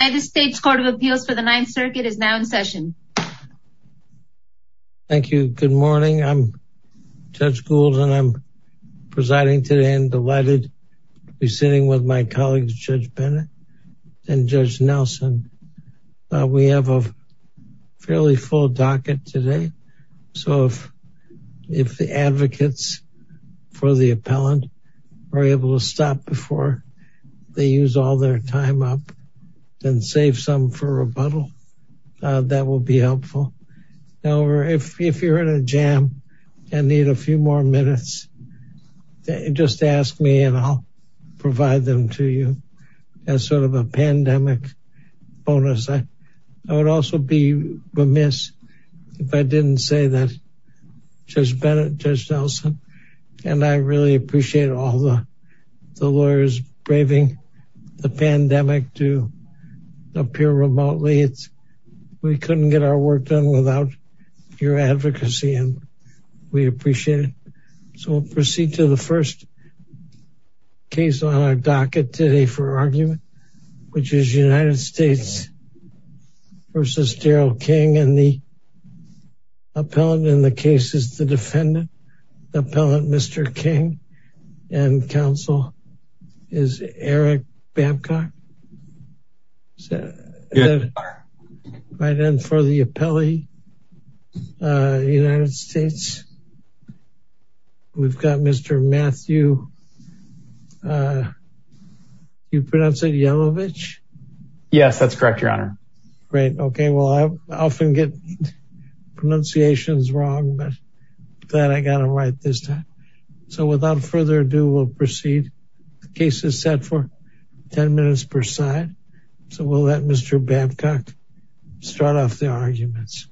United States Court of Appeals for the Ninth Circuit is now in session. Thank you. Good morning. I'm Judge Gould and I'm presiding today and delighted to be sitting with my colleagues, Judge Bennett and Judge Nelson. We have a fairly full docket today. So if the advocates for the appellant are able to stop before they use all their time up, then save some for rebuttal. That will be helpful. However, if you're in a jam and need a few more minutes, just ask me and I'll provide them to you as sort of a pandemic bonus. I would also be remiss if I didn't say that Judge Bennett, Judge Nelson, Judge Gould, Judge Nelson, we really appreciate all the lawyers braving the pandemic to appear remotely. We couldn't get our work done without your advocacy and we appreciate it. So we'll proceed to the first case on our docket today for argument, which is United States v. Darrel King and the case is the defendant, the appellant, Mr. King and counsel is Eric Babcock. Right then for the appellee, United States, we've got Mr. Matthew, you pronounce it Yelovich? Yes, that's correct, Your Honor. Great. Okay. Well, I often get pronunciations wrong, but then I got it right this time. So without further ado, we'll proceed. The case is set for 10 minutes per side. So we'll let Mr. Babcock start off the arguments.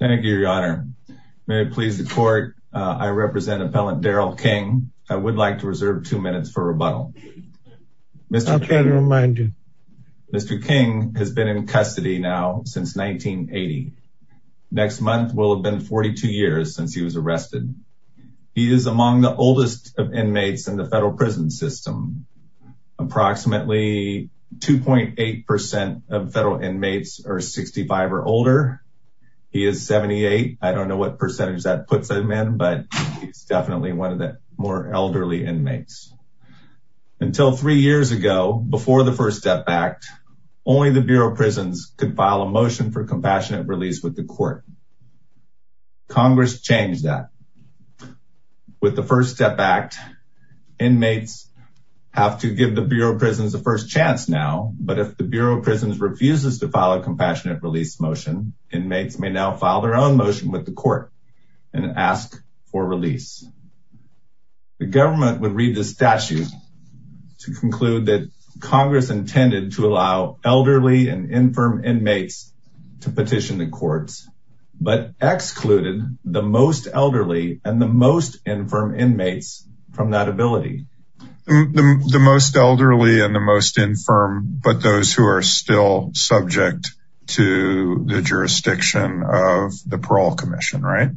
Thank you, Your Honor. May it please the court. I represent appellant Darrell King. I would like to reserve two minutes for rebuttal. I'll try to remind you. Mr. King has been in custody now since 1980. Next month will have been 42 years since he was arrested. He is among the oldest of inmates in the federal prison system. Approximately 2.8% of federal inmates are 65 or older. He is 78. I don't know what percentage that puts him in, but he's definitely one of the more elderly inmates. Until three years ago, before the First Step Act, only the Bureau of Prisons could file a motion for compassionate release with the court. Congress changed that. With the First Step Act, inmates have to give the Bureau of Prisons the first chance now, but if the Bureau of Prisons refuses to file a compassionate release motion, inmates may now file their own motion with the court and ask for release. The government would read the statute to conclude that Congress intended to allow elderly and infirm inmates to petition the courts, but excluded the most elderly and the most infirm inmates from that ability. The most elderly and the most infirm, but those who are still subject to the jurisdiction of the Parole Commission, right?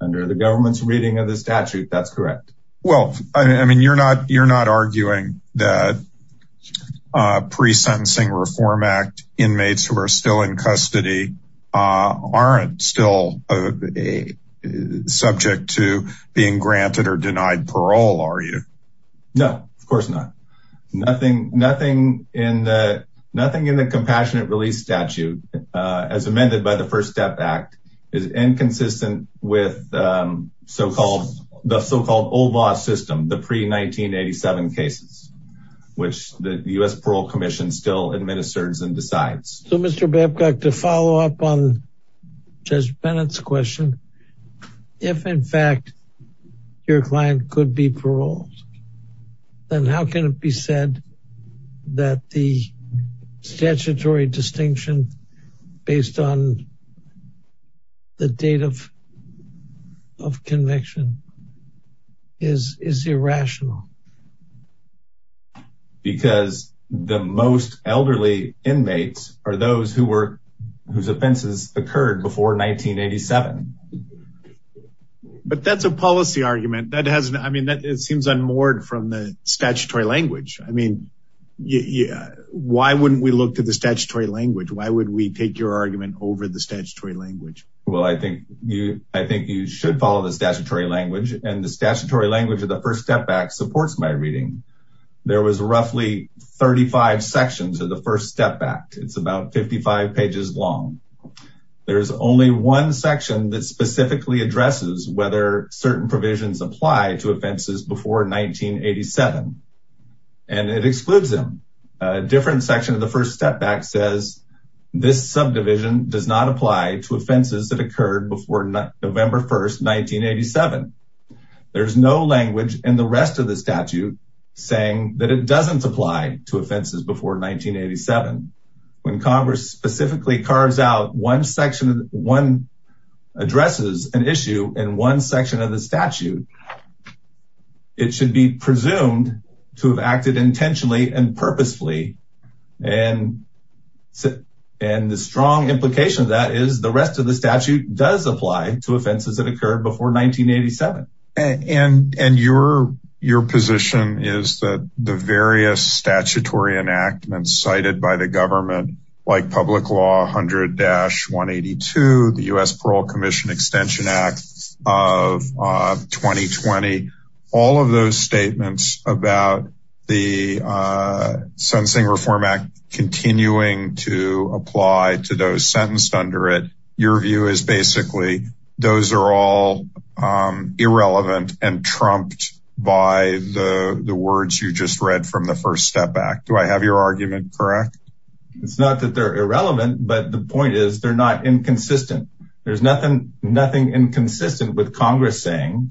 Under the government's reading of the statute, that's correct. Well, I mean, you're not you're not arguing that pre-sentencing Reform Act inmates who are still in custody aren't still subject to being granted or denied parole, are you? No, of course not. Nothing in the compassionate release statute, as amended by the First Step Act, is inconsistent with so-called the so-called OBOS system, the pre-1987 cases, which the U.S. Parole Commission still administers and decides. So Mr. Babcock, to follow up on Judge Bennett's question, if in fact, your client could be paroled, then how can it be said that the statutory distinction based on the date of conviction is irrational? Because the most elderly inmates are those who were whose offenses occurred before 1987. But that's a policy argument that has, I mean, that it seems unmoored from the statutory language. I mean, yeah. Why wouldn't we look to the statutory language? Why would we take your argument over the statutory language? Well, I think you I think you should follow the statutory language and the statutory language of the First Step Act supports that. And it supports my reading. There was roughly 35 sections of the First Step Act. It's about 55 pages long. There's only one section that specifically addresses whether certain provisions apply to offenses before 1987. And it excludes them. A different section of the First Step Act says, this subdivision does not apply to offenses that occurred before November 1st, 1987. There's no language in the rest of the statute saying that it doesn't apply to offenses before 1987. When Congress specifically carves out one section, one addresses an issue in one section of the statute, it should be presumed to have acted intentionally and purposefully. And and the strong implication of that is the rest of the statute does apply to offenses that occurred before 1987. And and your your position is that the various statutory enactments cited by the government, like public law 100-182, the U.S. Reform Act, continuing to apply to those sentenced under it, your view is basically those are all irrelevant and trumped by the words you just read from the First Step Act. Do I have your argument correct? It's not that they're irrelevant, but the point is they're not inconsistent. There's nothing, nothing inconsistent with Congress saying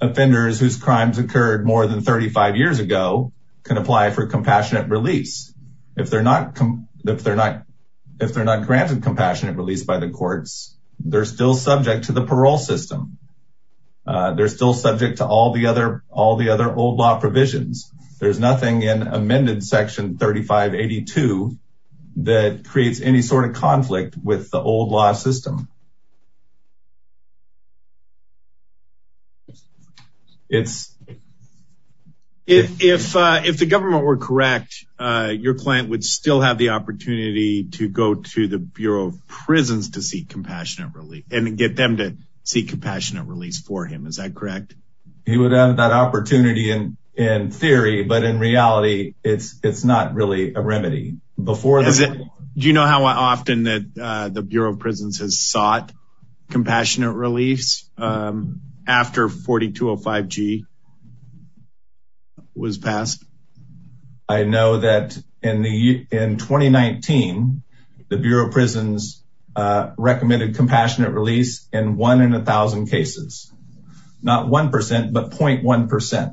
offenders whose crimes occurred more than 35 years ago can apply for compassionate release. If they're not, if they're not, if they're not granted compassionate release by the courts, they're still subject to the parole system. They're still subject to all the other, all the other old law provisions. There's nothing in amended section 35-82 that creates any sort of conflict with the old law system. It's. If if if the government were correct, your client would still have the opportunity to go to the Bureau of Prisons to seek compassionate relief and get them to seek compassionate release for him. Is that correct? He would have that opportunity in, in theory, but in reality, it's, it's not really a remedy. Before the- Do you know how often that the Bureau of Prisons has sought compassionate release after 4205G was passed? I know that in the, in 2019, the Bureau of Prisons recommended compassionate release in one in a thousand cases. Not 1%, but 0.1%.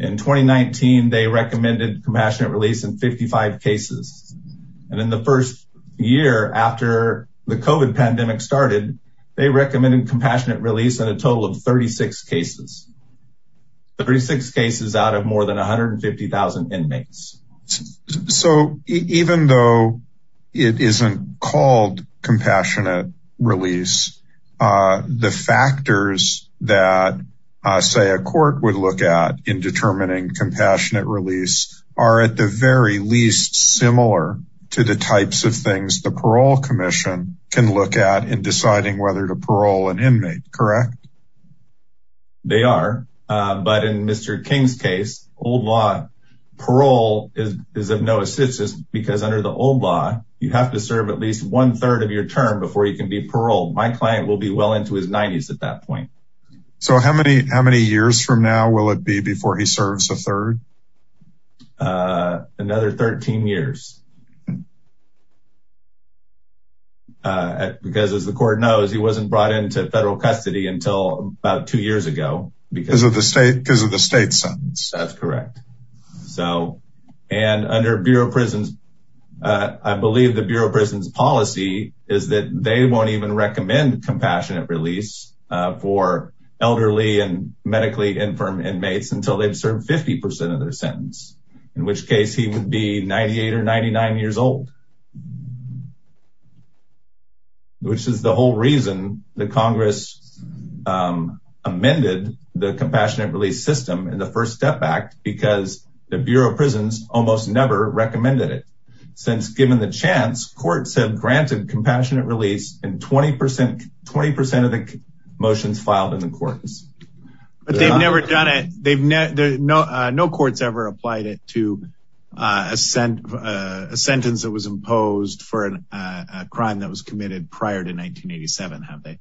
In 2019, they recommended compassionate release in 55 cases. And in the first year after the COVID pandemic started, they recommended compassionate release in a total of 36 cases. 36 cases out of more than 150,000 inmates. So even though it isn't called compassionate release, the factors that, say, a court would look at in determining compassionate release are at the very least similar to the types of things the parole commission can look at in deciding whether to parole an inmate. Correct? They are. But in Mr. King's case, old law, parole is of no assistance because under the old law, you have to serve at least one third of your term before you can be paroled. My client will be well into his 90s at that point. So how many, how many years from now will it be before he serves a third? Another 13 years. Because as the court knows, he wasn't brought into federal custody until about two years ago. Because of the state, because of the state's sentence. That's correct. So, and under Bureau of Prisons, I believe the Bureau of Prisons policy is that they won't even recommend compassionate release for elderly and medically infirm inmates until they've served 50% of their sentence, in which case he would be 98 or 99 years old. Which is the whole reason the Congress amended the compassionate release system in the first step back because the Bureau of Prisons almost never recommended it. Since given the chance, courts have granted compassionate release and 20%, 20% of the motions filed in the courts, but they've never done it. They've never, no courts ever applied it to a sentence that was imposed for a crime that was committed prior to 1987, have they?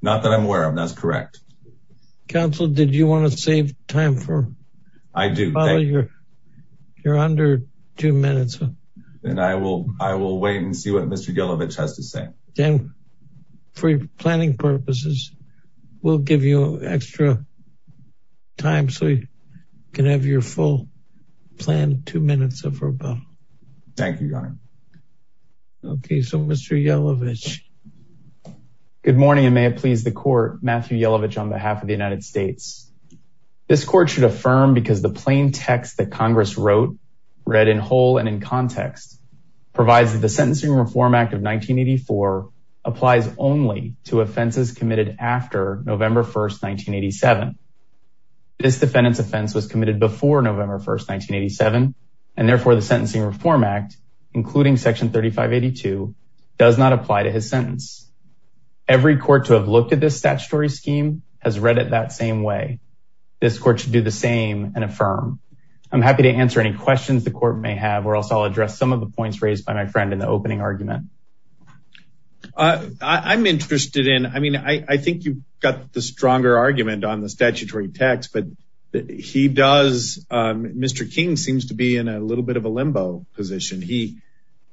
Not that I'm aware of. That's correct. Counsel, did you want to save time for, you're under two minutes. And I will, I will wait and see what Mr. Yellovich has to say. Then for planning purposes, we'll give you extra time so you can have your full plan, two minutes or so. Thank you, Your Honor. Okay. So Mr. Yellovich. Good morning. And may it please the court, Matthew Yellovich on behalf of the United States. This court should affirm because the plain text that Congress wrote, read in whole and in context provides that the Sentencing Reform Act of 1984 applies only to offenses committed after November 1st, 1987. This defendant's offense was committed before November 1st, 1987, and therefore the Sentencing Reform Act, including section 3582 does not apply to his sentence. Every court to have looked at this statutory scheme has read it that same way. This court should do the same and affirm. I'm happy to answer any questions the court may have, or else I'll address some of the points raised by my friend in the opening argument. I'm interested in, I mean, I think you've got the stronger argument on the statutory text, but he does, Mr. King seems to be in a little bit of a limbo position. He,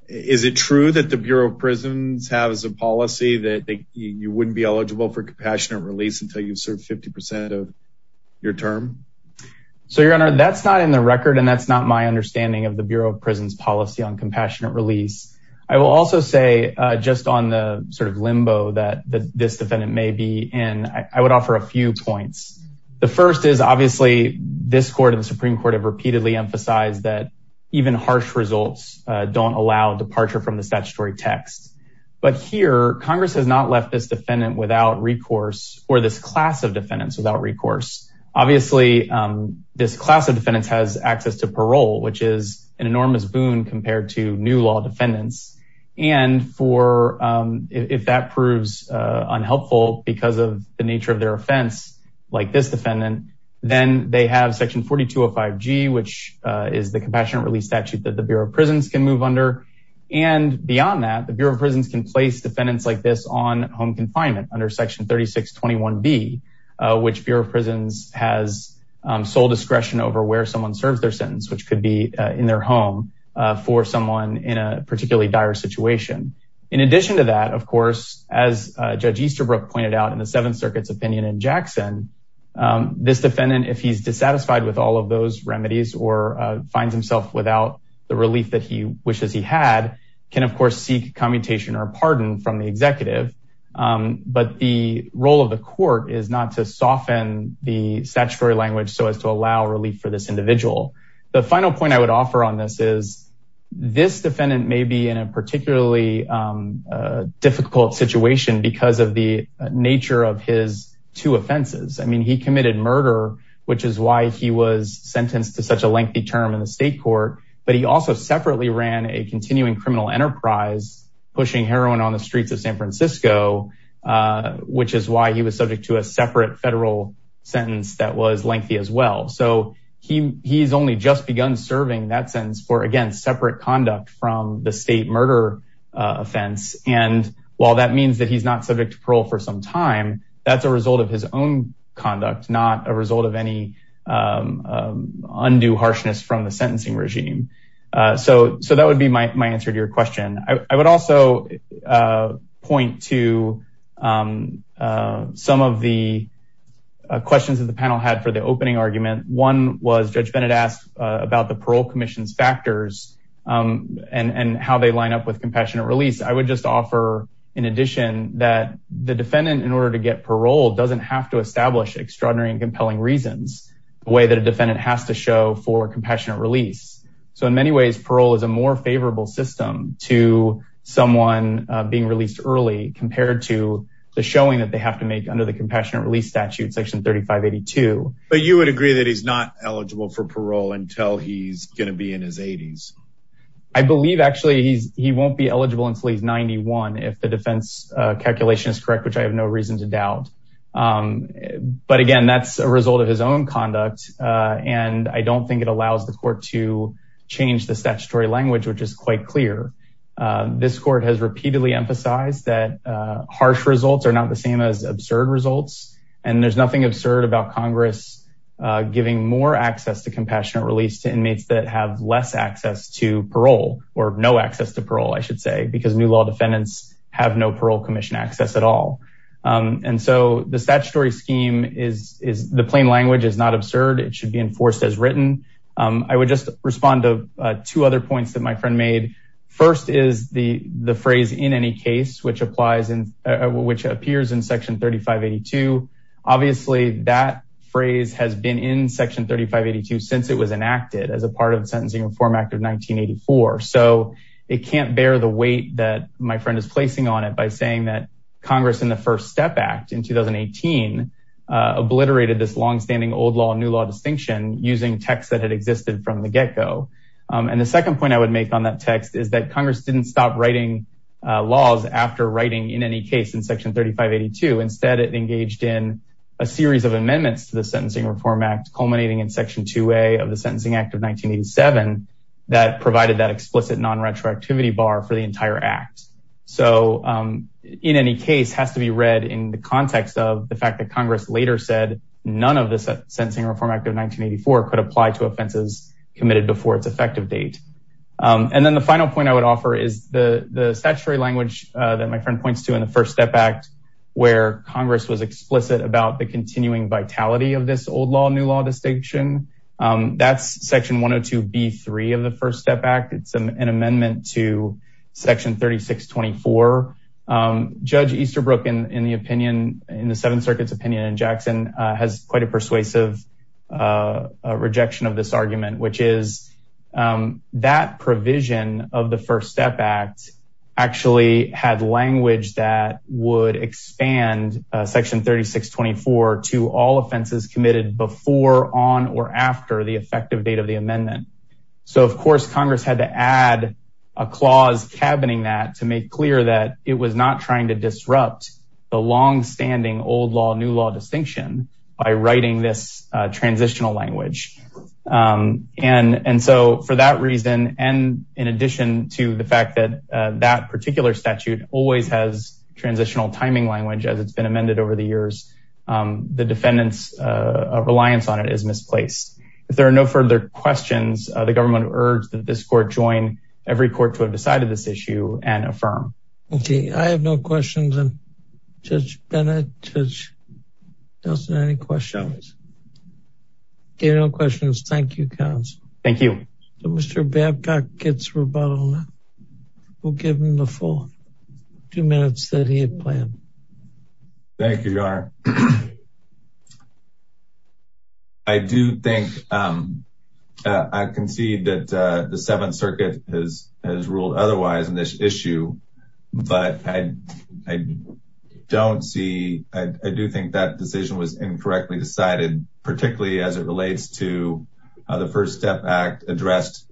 is it true that the Bureau of Prisons have as a policy that you wouldn't be eligible for compassionate release until you've served 50% of your term? So your Honor, that's not in the record. And that's not my understanding of the Bureau of Prisons policy on compassionate release. I will also say just on the sort of limbo that this defendant may be in, I would offer a few points. The first is obviously this court and the Supreme Court have repeatedly emphasized that even harsh results don't allow departure from the statutory text. But here Congress has not left this defendant without recourse or this class of defendants without recourse. Obviously, this class of defendants has access to parole, which is an enormous boon compared to new law defendants. And if that proves unhelpful because of the nature of their offense, like this defendant, then they have section 4205G, which is the compassionate release statute that the Bureau of Prisons can move under. And beyond that, the Bureau of Prisons can place defendants like this on home confinement under section 3621B, which Bureau of Prisons has sole discretion over where someone serves their sentence, which could be in their home for someone in a particularly dire situation. In addition to that, of course, as Judge Easterbrook pointed out in the Seventh Circuit's opinion in Jackson, this defendant, if he's dissatisfied with all of those remedies or finds himself without the relief that he wishes he had, can, of course, seek commutation or pardon from the executive. But the role of the court is not to soften the statutory language so as to allow relief for this individual. The final point I would offer on this is this defendant may be in a particularly difficult situation because of the nature of his two offenses. I mean, he committed murder, which is why he was sentenced to such a lengthy term in the state court. But he also separately ran a continuing criminal enterprise, pushing heroin on the streets of San Francisco, which is why he was subject to a separate federal sentence that was lengthy as well. So he's only just begun serving that sentence for, again, separate conduct from the state murder offense. And while that means that he's not subject to parole for some time, that's a result of his own conduct, not a result of any undue harshness from the sentencing regime. So that would be my answer to your question. I would also point to some of the questions that the panel had for the opening argument. One was Judge Bennett asked about the parole commission's factors and how they line up with compassionate release. I would just offer, in addition, that the defendant, in order to get parole, doesn't have to establish extraordinary and compelling reasons, a way that a defendant has to show for compassionate release. So in many ways, parole is a more favorable system to someone being released early compared to the showing that they have to make under the compassionate release statute, section 3582. But you would agree that he's not eligible for parole until he's going to be in his 80s? I believe, actually, he won't be eligible until he's 91, if the defense calculation is correct, which I have no reason to doubt. But again, that's a result of his own conduct, and I don't think it allows the court to change the statutory language, which is quite clear. This court has repeatedly emphasized that harsh results are not the same as absurd results, and there's nothing absurd about Congress giving more access to compassionate release to inmates that have less access to parole, or no access to parole, I should say, because new law defendants have no parole commission access at all. And so the statutory scheme is, the plain language is not absurd. It should be enforced as written. I would just respond to two other points that my friend made. First is the phrase, in any case, which appears in section 3582. Obviously, that phrase has been in section 3582 since it was enacted as a part of the Sentencing Reform Act of 1984. So it can't bear the weight that my friend is placing on it by saying that Congress, in the First Step Act in 2018, obliterated this longstanding old law and new law distinction using text that had existed from the get-go. And the second point I would make on that text is that Congress didn't stop writing laws after writing, in any case, in section 3582. Instead, it engaged in a series of amendments to the Sentencing Reform Act, culminating in section 2A of the Sentencing Act of 1987, that provided that explicit non-retroactivity bar for the entire act. So, in any case, has to be read in the context of the fact that Congress later said none of the Sentencing Reform Act of 1984 could apply to offenses committed before its effective date. And then the final point I would offer is the statutory language that my friend points to in the First Step Act, where Congress was explicit about the continuing vitality of this old law, new law distinction. That's section 102B3 of the First Step Act. It's an amendment to section 3624. Judge Easterbrook, in the opinion, in the Seventh Circuit's opinion, and Jackson has quite a persuasive rejection of this argument, which is that provision of the First Step Act actually had language that would expand section 3624 to all offenses committed before, on, or after the effective date of the amendment. So, of course, Congress had to add a clause cabining that to make clear that it was not trying to disrupt the long-standing old law, new law distinction by writing this transitional language. And so, for that reason, and in addition to the fact that that particular statute always has transitional timing language, as it's been amended over the years, the defendant's reliance on it is misplaced. If there are no further questions, the government would urge that this court join every court to have decided this issue and affirm. Okay, I have no questions. And Judge Bennett, Judge Nelson, any questions? Okay, no questions. Thank you, counsel. Thank you. Mr. Babcock gets rebuttal now. We'll give him the full two minutes that he had planned. Thank you, Your Honor. I do think, I concede that the Seventh Circuit has ruled otherwise on this issue, but I don't see, I do think that decision was incorrectly decided, particularly as it relates to how the First Step Act addressed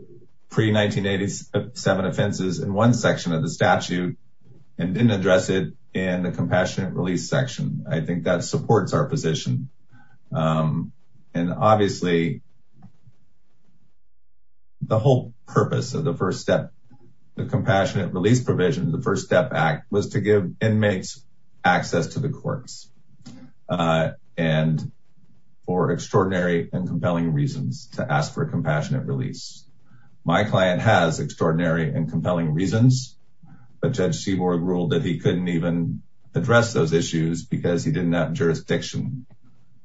pre-1987 offenses in one section of the statute and didn't address it in the Compassionate Release section. I think that supports our position. And obviously, the whole purpose of the First Step, the Compassionate Release provision, the First Step Act, was to give inmates access to the courts. And for extraordinary and compelling reasons to ask for a Compassionate Release. My client has extraordinary and compelling reasons, but Judge Seaborg ruled that he couldn't even address those issues because he didn't have jurisdiction.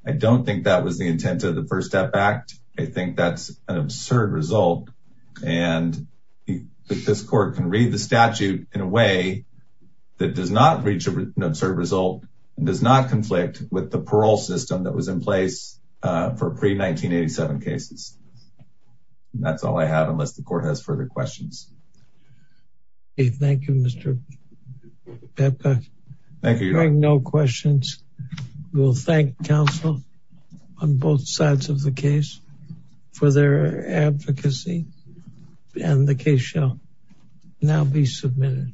I don't think that was the intent of the First Step Act. I think that's an absurd result. And this court can read the statute in a way that does not reach an absurd result, does not conflict with the parole system that was in place for pre-1987 cases. That's all I have, unless the court has further questions. Thank you, Mr. Babcock. Thank you, Your Honor. Hearing no questions, we'll thank counsel on both sides of the case. For their advocacy, and the case shall now be submitted.